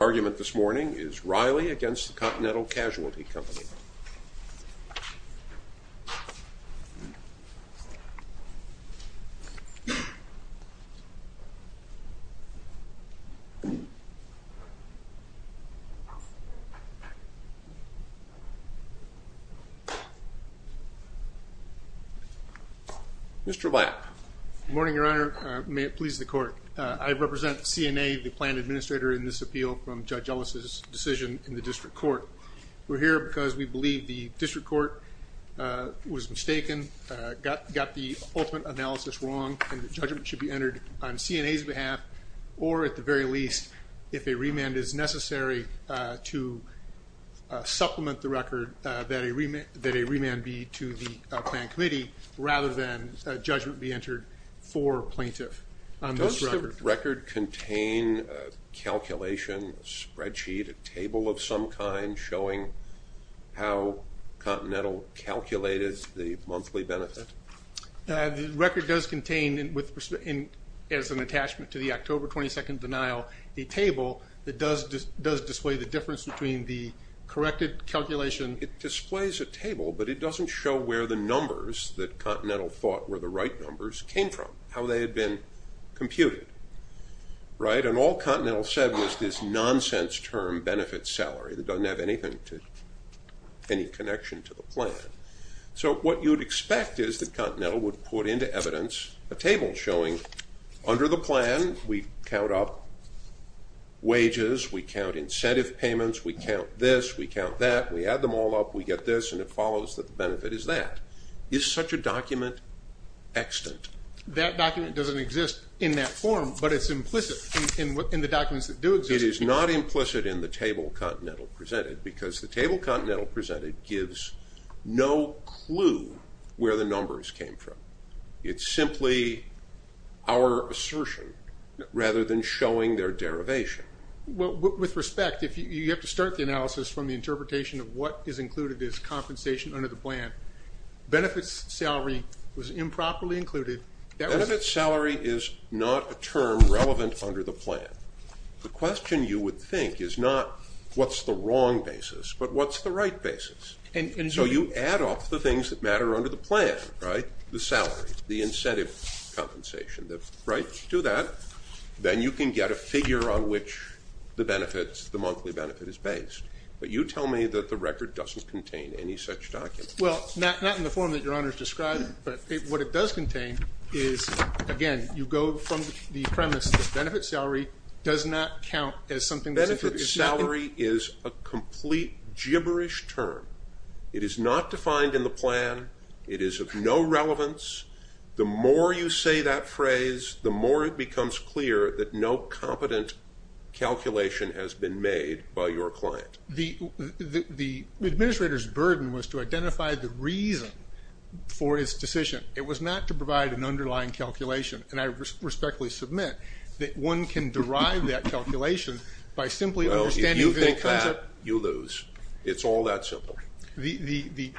The argument this morning is Reilly v. Continental Casualty Company. Mr. Lapp. Good morning, Your Honor. May it please the Court. I represent CNA, the planned administrator, in this appeal from Judge Ellis' decision in the District Court. We're here because we believe the District Court was mistaken, got the ultimate analysis wrong, and that judgment should be entered on CNA's behalf, or, at the very least, if a remand is necessary to supplement the record, that a remand be to the planned committee, rather than judgment be entered for plaintiff. Does the record contain a calculation, a spreadsheet, a table of some kind showing how Continental calculated the monthly benefit? The record does contain, as an attachment to the October 22nd denial, a table that does display the difference between the corrected calculation... It displays a table, but it doesn't show where the numbers that Continental thought were the right numbers came from, how they had been computed, right? And all Continental said was this nonsense term, benefit salary, that doesn't have anything to... any connection to the plan. So what you'd expect is that Continental would put into evidence a table showing, under the plan, we count up wages, we count incentive payments, we count this, we count that. We add them all up, we get this, and it follows that the benefit is that. Is such a document extant? That document doesn't exist in that form, but it's implicit in the documents that do exist. It is not implicit in the table Continental presented, because the table Continental presented gives no clue where the numbers came from. It's simply our assertion, rather than showing their derivation. With respect, you have to start the analysis from the interpretation of what is included as compensation under the plan. Benefit salary was improperly included. Benefit salary is not a term relevant under the plan. The question, you would think, is not what's the wrong basis, but what's the right basis? So you add up the things that matter under the plan, right? The salary, the incentive compensation, right? Do that. Then you can get a figure on which the benefits, the monthly benefit is based. But you tell me that the record doesn't contain any such document. Well, not in the form that your Honor has described, but what it does contain is, again, you go from the premise that benefit salary does not count as something that's- Benefit salary is a complete gibberish term. It is not defined in the plan. It is of no relevance. The more you say that phrase, the more it becomes clear that no competent calculation has been made by your client. The administrator's burden was to identify the reason for his decision. It was not to provide an underlying calculation. And I respectfully submit that one can derive that calculation by simply understanding- No, if you think that, you lose. It's all that simple. The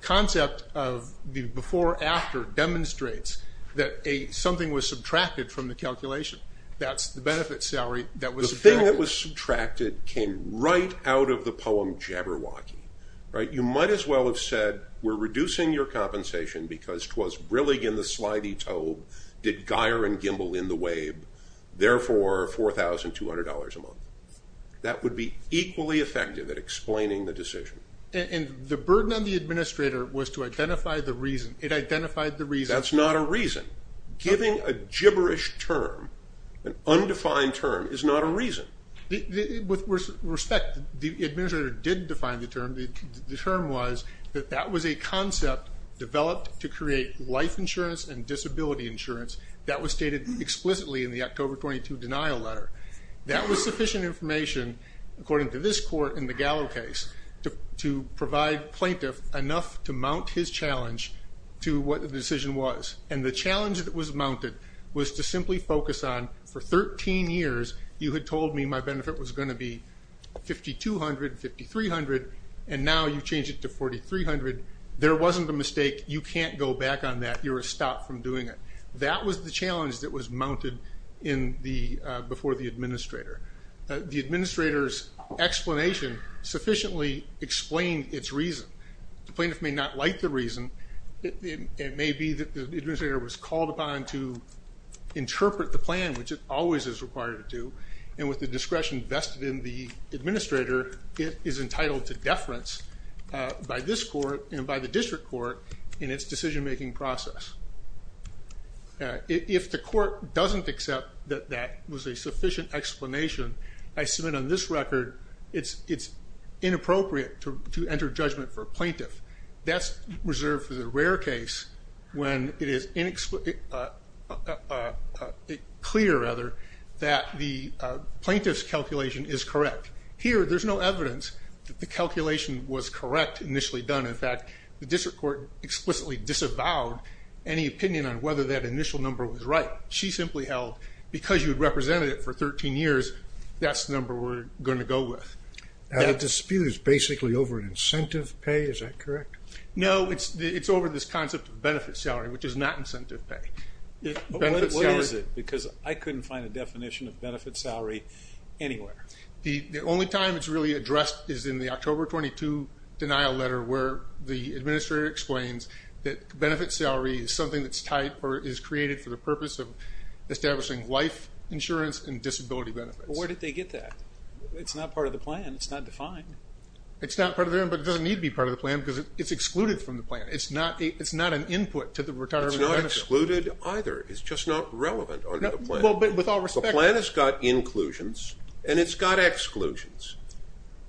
concept of the before-after demonstrates that something was subtracted from the calculation. That's the benefit salary that was- The thing that was subtracted came right out of the poem Jabberwocky, right? You might as well have said, we're reducing your compensation because twas brillig in the slithy tobe, did gyre and gimble in the wabe, therefore $4,200 a month. That would be equally effective at explaining the decision. And the burden on the administrator was to identify the reason. It identified the reason- That's not a reason. Giving a gibberish term, an undefined term, is not a reason. With respect, the administrator did define the term. The term was that that was a concept developed to create life insurance and disability insurance that was stated explicitly in the October 22 denial letter. That was sufficient information, according to this court in the Gallo case, to provide plaintiff enough to mount his challenge to what the decision was. And the challenge that was mounted was to simply focus on, for 13 years, you had told me my benefit was going to be $5,200, $5,300, and now you've changed it to $4,300. There wasn't a mistake. You can't go back on that. You're a stop from doing it. That was the challenge that was mounted before the administrator. The administrator's explanation sufficiently explained its reason. The plaintiff may not like the reason. It may be that the administrator was called upon to interpret the plan, which it always is required to do, and with the discretion vested in the administrator, it is entitled to deference by this court and by the district court in its decision-making process. If the court doesn't accept that that was a sufficient explanation, I submit on this record it's inappropriate to enter judgment for a plaintiff. That's reserved for the rare case when it is clear that the plaintiff's calculation is correct. Here, there's no evidence that the calculation was correct initially done. In fact, the district court explicitly disavowed any opinion on whether that initial number was right. She simply held, because you had represented it for 13 years, that's the number we're going to go with. The dispute is basically over incentive pay. Is that correct? No, it's over this concept of benefit salary, which is not incentive pay. What is it? Because I couldn't find a definition of benefit salary anywhere. The only time it's really addressed is in the October 22 denial letter where the administrator explains that benefit salary is something that's tied or is created for the purpose of establishing life insurance and disability benefits. Where did they get that? It's not part of the plan. It's not defined. It's not part of the plan, but it doesn't need to be part of the plan because it's excluded from the plan. It's not an input to the retirement action. It's not excluded either. It's just not relevant under the plan. With all respect. The plan has got inclusions, and it's got exclusions.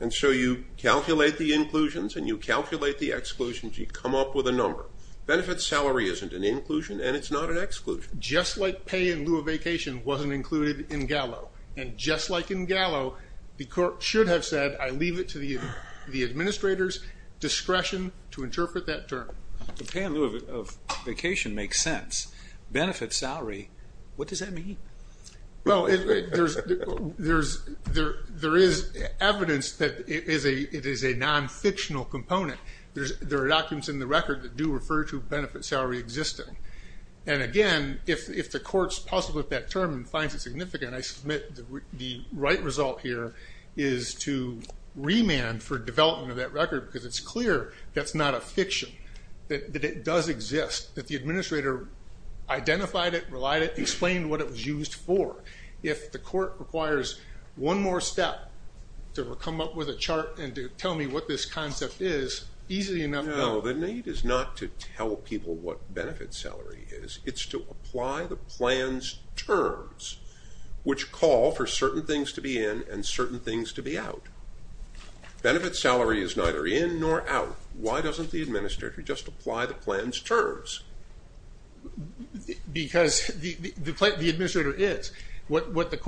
And so you calculate the inclusions, and you calculate the exclusions. You come up with a number. Benefit salary isn't an inclusion, and it's not an exclusion. Just like pay in lieu of vacation wasn't included in Gallo. And just like in Gallo, the court should have said, I leave it to the administrator's discretion to interpret that term. The pay in lieu of vacation makes sense. Benefit salary, what does that mean? Well, there is evidence that it is a non-fictional component. There are documents in the record that do refer to benefit salary existing. And, again, if the court's positive with that term and finds it significant, I submit the right result here is to remand for development of that record because it's clear that's not a fiction, that it does exist, that the administrator identified it, relied it, explained what it was used for. If the court requires one more step to come up with a chart and to tell me what this concept is, easily enough. No, the need is not to tell people what benefit salary is. It's to apply the plan's terms, which call for certain things to be in and certain things to be out. Benefit salary is neither in nor out. Why doesn't the administrator just apply the plan's terms? Because the administrator is. There's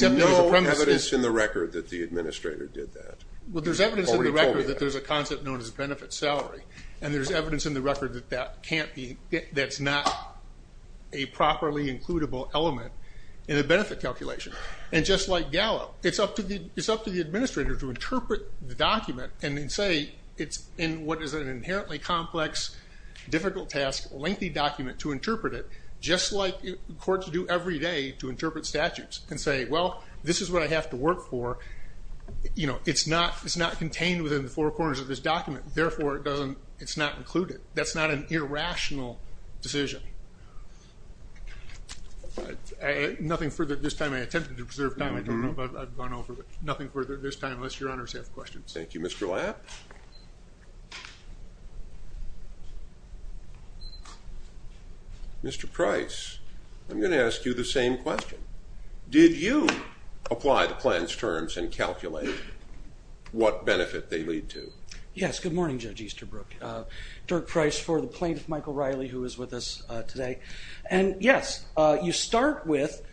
no evidence in the record that the administrator did that. Well, there's evidence in the record that there's a concept known as benefit salary. And there's evidence in the record that that's not a properly includable element in a benefit calculation. And just like Gallo, it's up to the administrator to interpret the document and then say it's in what is an inherently complex, difficult task, lengthy document to interpret it, just like courts do every day to interpret statutes and say, well, this is what I have to work for. It's not contained within the four corners of this document. Therefore, it's not included. That's not an irrational decision. Nothing further at this time. I attempted to preserve time. I don't know if I've gone over it. Nothing further at this time unless your honors have questions. Thank you, Mr. Lapp. Mr. Price, I'm going to ask you the same question. Did you apply the plan's terms and calculate what benefit they lead to? Yes. Good morning, Judge Easterbrook. Dirk Price for the plaintiff, Michael Riley, who is with us today. And, yes, you start with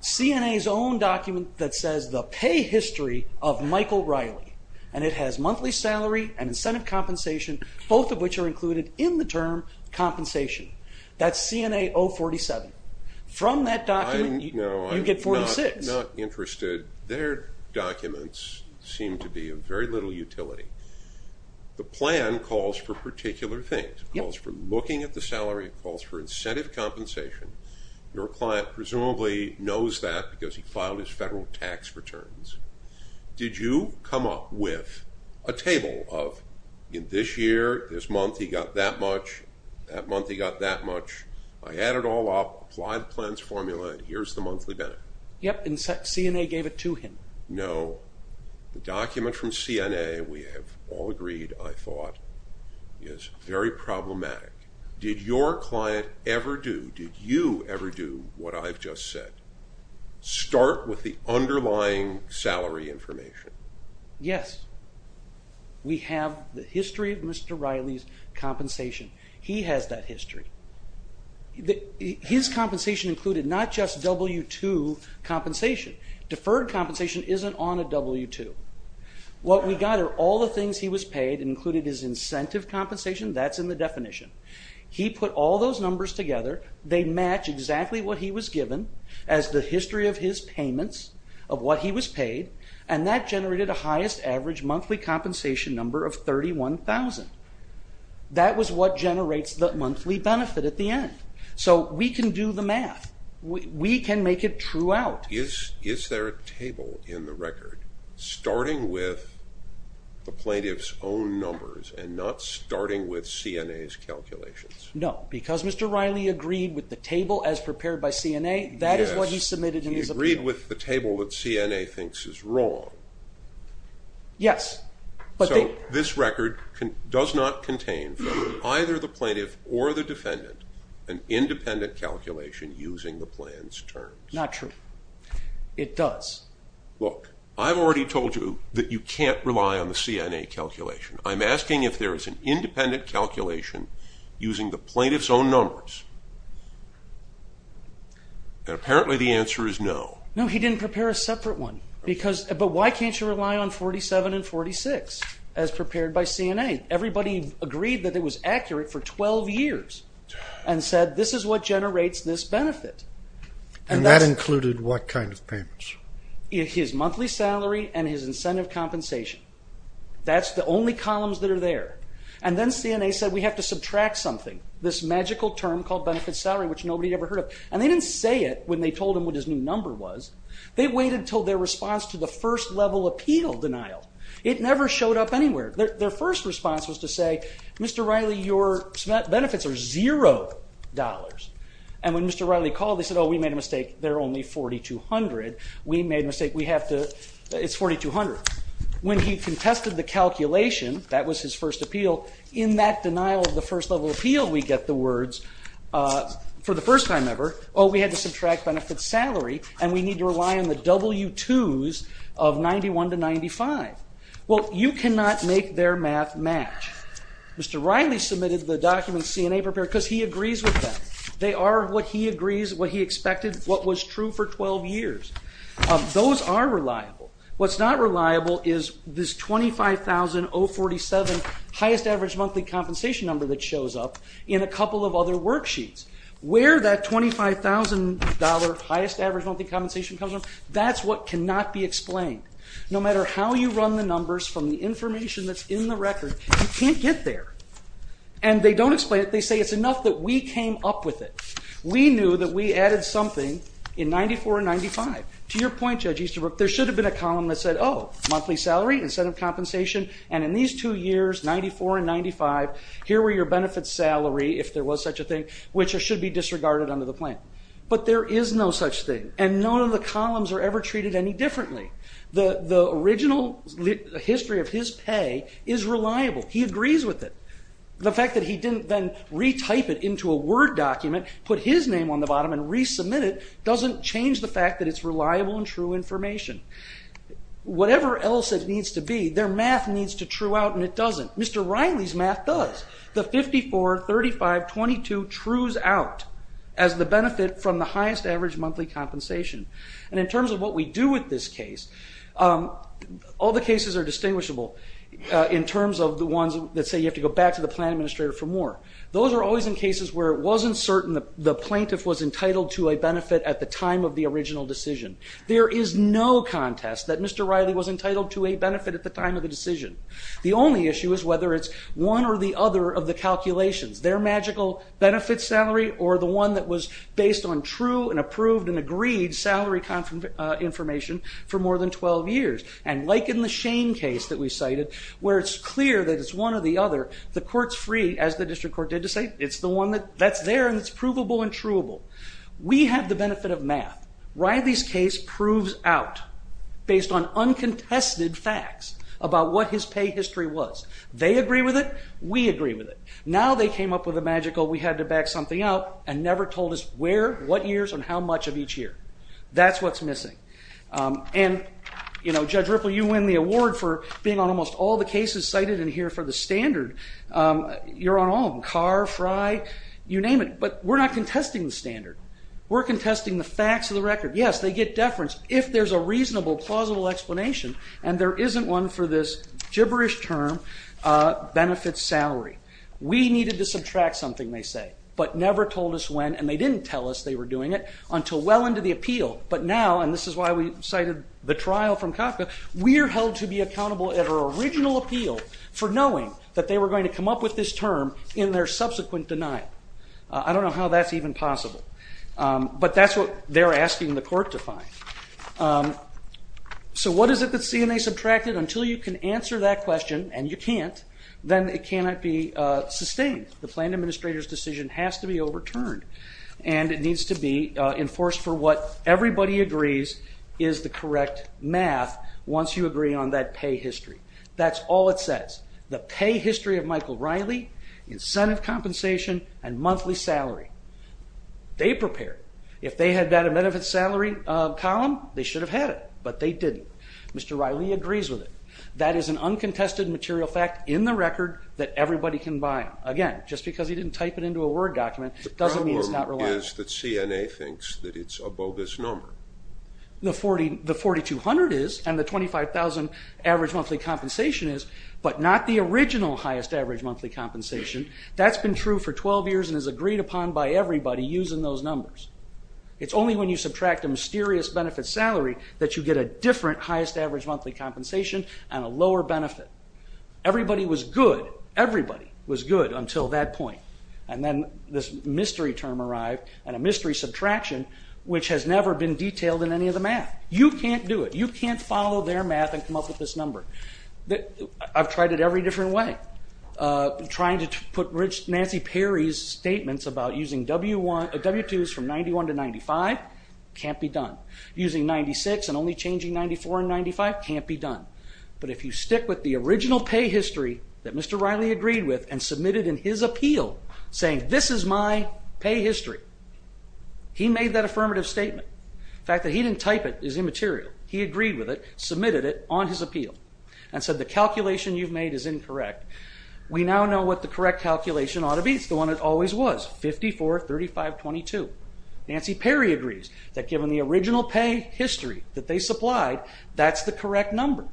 CNA's own document that says the pay history of Michael Riley. And it has monthly salary and incentive compensation, both of which are included in the term compensation. That's CNA 047. From that document, you get 46. No, I'm not interested. Their documents seem to be of very little utility. The plan calls for particular things. It calls for looking at the salary. It calls for incentive compensation. Your client presumably knows that because he filed his federal tax returns. Did you come up with a table of, in this year, this month, he got that much, that month he got that much? I add it all up, apply the plan's formula, and here's the monthly benefit. Yes, and CNA gave it to him. No. The document from CNA, we have all agreed, I thought, is very problematic. Did your client ever do, did you ever do what I've just said, start with the underlying salary information? Yes. We have the history of Mr. Riley's compensation. He has that history. His compensation included not just W-2 compensation. Deferred compensation isn't on a W-2. What we got are all the things he was paid and included his incentive compensation. That's in the definition. He put all those numbers together. They match exactly what he was given as the history of his payments of what he was paid, and that generated a highest average monthly compensation number of 31,000. That was what generates the monthly benefit at the end. We can do the math. We can make it true out. Is there a table in the record starting with the plaintiff's own numbers and not starting with CNA's calculations? No, because Mr. Riley agreed with the table as prepared by CNA. That is what he submitted in his appeal. He agreed with the table that CNA thinks is wrong. Yes. So this record does not contain from either the plaintiff or the defendant an independent calculation using the plan's terms? Not true. It does. Look, I've already told you that you can't rely on the CNA calculation. I'm asking if there is an independent calculation using the plaintiff's own numbers, and apparently the answer is no. No, he didn't prepare a separate one. But why can't you rely on 47 and 46 as prepared by CNA? Everybody agreed that it was accurate for 12 years and said this is what generates this benefit. And that included what kind of payments? His monthly salary and his incentive compensation. That's the only columns that are there. And then CNA said we have to subtract something, this magical term called benefit salary, which nobody had ever heard of. And they didn't say it when they told him what his new number was. They waited until their response to the first-level appeal denial. It never showed up anywhere. Their first response was to say, Mr. Riley, your benefits are $0. And when Mr. Riley called, they said, oh, we made a mistake. They're only $4,200. We made a mistake. We have to, it's $4,200. When he contested the calculation, that was his first appeal, in that denial of the first-level appeal, we get the words for the first time ever, oh, we had to subtract benefit salary, and we need to rely on the W-2s of 91 to 95. Well, you cannot make their math match. Mr. Riley submitted the documents CNA prepared because he agrees with them. They are what he agrees, what he expected, what was true for 12 years. Those are reliable. What's not reliable is this $25,047 highest average monthly compensation number that shows up in a couple of other worksheets. Where that $25,000 highest average monthly compensation comes from, that's what cannot be explained. No matter how you run the numbers from the information that's in the record, you can't get there. And they don't explain it. They say it's enough that we came up with it. We knew that we added something in 94 and 95. To your point, Judge Easterbrook, there should have been a column that said, oh, monthly salary, incentive compensation, and in these two years, 94 and 95, here were your benefits salary, if there was such a thing, which should be disregarded under the plan. But there is no such thing, and none of the columns are ever treated any differently. The original history of his pay is reliable. He agrees with it. The fact that he didn't then retype it into a Word document, put his name on the bottom and resubmit it, doesn't change the fact that it's reliable and true information. Whatever else it needs to be, their math needs to true out, and it doesn't. Mr. Riley's math does. The 54, 35, 22 trues out as the benefit from the highest average monthly compensation. And in terms of what we do with this case, all the cases are distinguishable in terms of the ones that say you have to go back to the plan administrator for more. Those are always in cases where it wasn't certain the plaintiff was entitled to a benefit at the time of the original decision. There is no contest that Mr. Riley was entitled to a benefit at the time of the decision. The only issue is whether it's one or the other of the calculations, their magical benefit salary, or the one that was based on true and approved and agreed salary information for more than 12 years. And like in the Shane case that we cited, where it's clear that it's one or the other, the court's free, as the district court did to say, it's the one that's there and it's provable and truable. We have the benefit of math. Riley's case proves out based on uncontested facts about what his pay history was. They agree with it. We agree with it. Now they came up with a magical we had to back something up and never told us where, what years, and how much of each year. That's what's missing. And, you know, Judge Ripple, you win the award for being on almost all the cases cited in here for the standard. You're on all of them, Carr, Fry, you name it. But we're not contesting the standard. We're contesting the facts of the record. Yes, they get deference if there's a reasonable, plausible explanation, and there isn't one for this gibberish term, benefit salary. We needed to subtract something, they say, but never told us when, and they didn't tell us they were doing it until well into the appeal. But now, and this is why we cited the trial from Kafka, we are held to be accountable at our original appeal for knowing that they were going to come up with this term in their subsequent denial. I don't know how that's even possible. But that's what they're asking the court to find. So what is it that CNA subtracted? Until you can answer that question, and you can't, then it cannot be sustained. The plan administrator's decision has to be overturned, and it needs to be enforced for what everybody agrees is the correct math once you agree on that pay history. That's all it says. The pay history of Michael Riley, incentive compensation, and monthly salary. They prepared it. If they had got a benefit salary column, they should have had it, but they didn't. Mr. Riley agrees with it. That is an uncontested material fact in the record that everybody can buy on. Again, just because he didn't type it into a Word document doesn't mean it's not reliable. The problem is that CNA thinks that it's a bogus number. The 4200 is, and the 25,000 average monthly compensation is, but not the original highest average monthly compensation. That's been true for 12 years and is agreed upon by everybody using those numbers. It's only when you subtract a mysterious benefit salary that you get a different highest average monthly compensation and a lower benefit. Everybody was good. Everybody was good until that point. Then this mystery term arrived and a mystery subtraction, which has never been detailed in any of the math. You can't do it. You can't follow their math and come up with this number. I've tried it every different way. Trying to put Nancy Perry's statements about using W-2s from 91 to 95 can't be done. Using 96 and only changing 94 and 95 can't be done. But if you stick with the original pay history that Mr. Riley agreed with and submitted in his appeal, saying this is my pay history, he made that affirmative statement. The fact that he didn't type it is immaterial. He agreed with it, submitted it on his appeal, and said the calculation you've made is incorrect. We now know what the correct calculation ought to be. It's the one it always was, 54, 35, 22. Nancy Perry agrees that given the original pay history that they supplied, that's the correct number.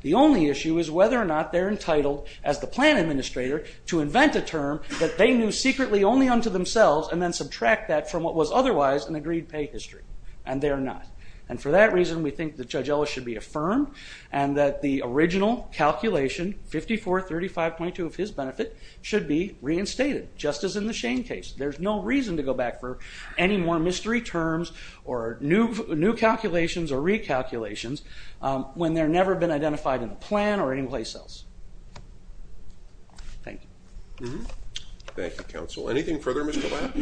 The only issue is whether or not they're entitled, as the plan administrator, to invent a term that they knew secretly only unto themselves and then subtract that from what was otherwise an agreed pay history. And they're not. And for that reason, we think that Judge Ellis should be affirmed and that the original calculation, 54, 35, 22 of his benefit, should be reinstated, just as in the Shane case. There's no reason to go back for any more mystery terms or new calculations or recalculations when they've never been identified in the plan or anyplace else. Thank you. Thank you, counsel. Anything further, Mr. Lapp?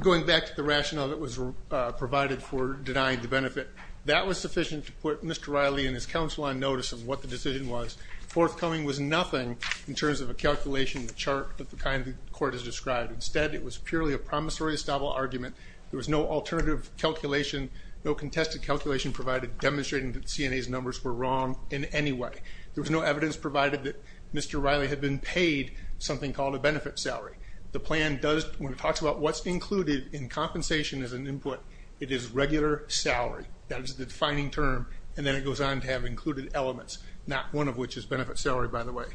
Going back to the rationale that was provided for denying the benefit, that was sufficient to put Mr. Riley and his counsel on notice of what the decision was. The forthcoming was nothing in terms of a calculation chart that the kind that the court has described. Instead, it was purely a promissory establishment argument. There was no alternative calculation, no contested calculation provided demonstrating that CNA's numbers were wrong in any way. There was no evidence provided that Mr. Riley had been paid something called a benefit salary. The plan does, when it talks about what's included in compensation as an input, it is regular salary. That is the defining term, and then it goes on to have included elements, not one of which is benefit salary, by the way.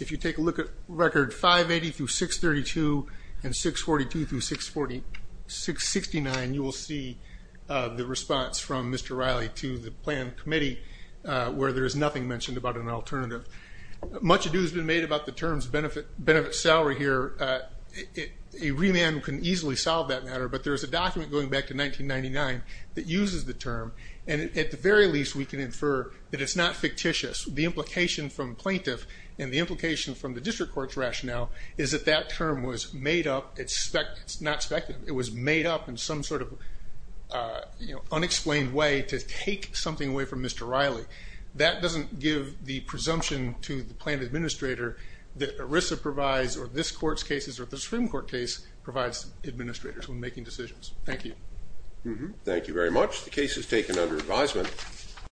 If you take a look at record 580 through 632 and 642 through 669, you will see the response from Mr. Riley to the plan committee where there is nothing mentioned about an alternative. Much ado has been made about the terms benefit salary here. A remand can easily solve that matter, but there is a document going back to 1999 that uses the term, and at the very least we can infer that it's not fictitious. The implication from plaintiff and the implication from the district court's rationale is that that term was made up, it's not speculative, it was made up in some sort of unexplained way to take something away from Mr. Riley. That doesn't give the presumption to the plan administrator that ERISA provides or this court's cases or the Supreme Court case provides administrators when making decisions. Thank you. Thank you very much. The case is taken under advisement.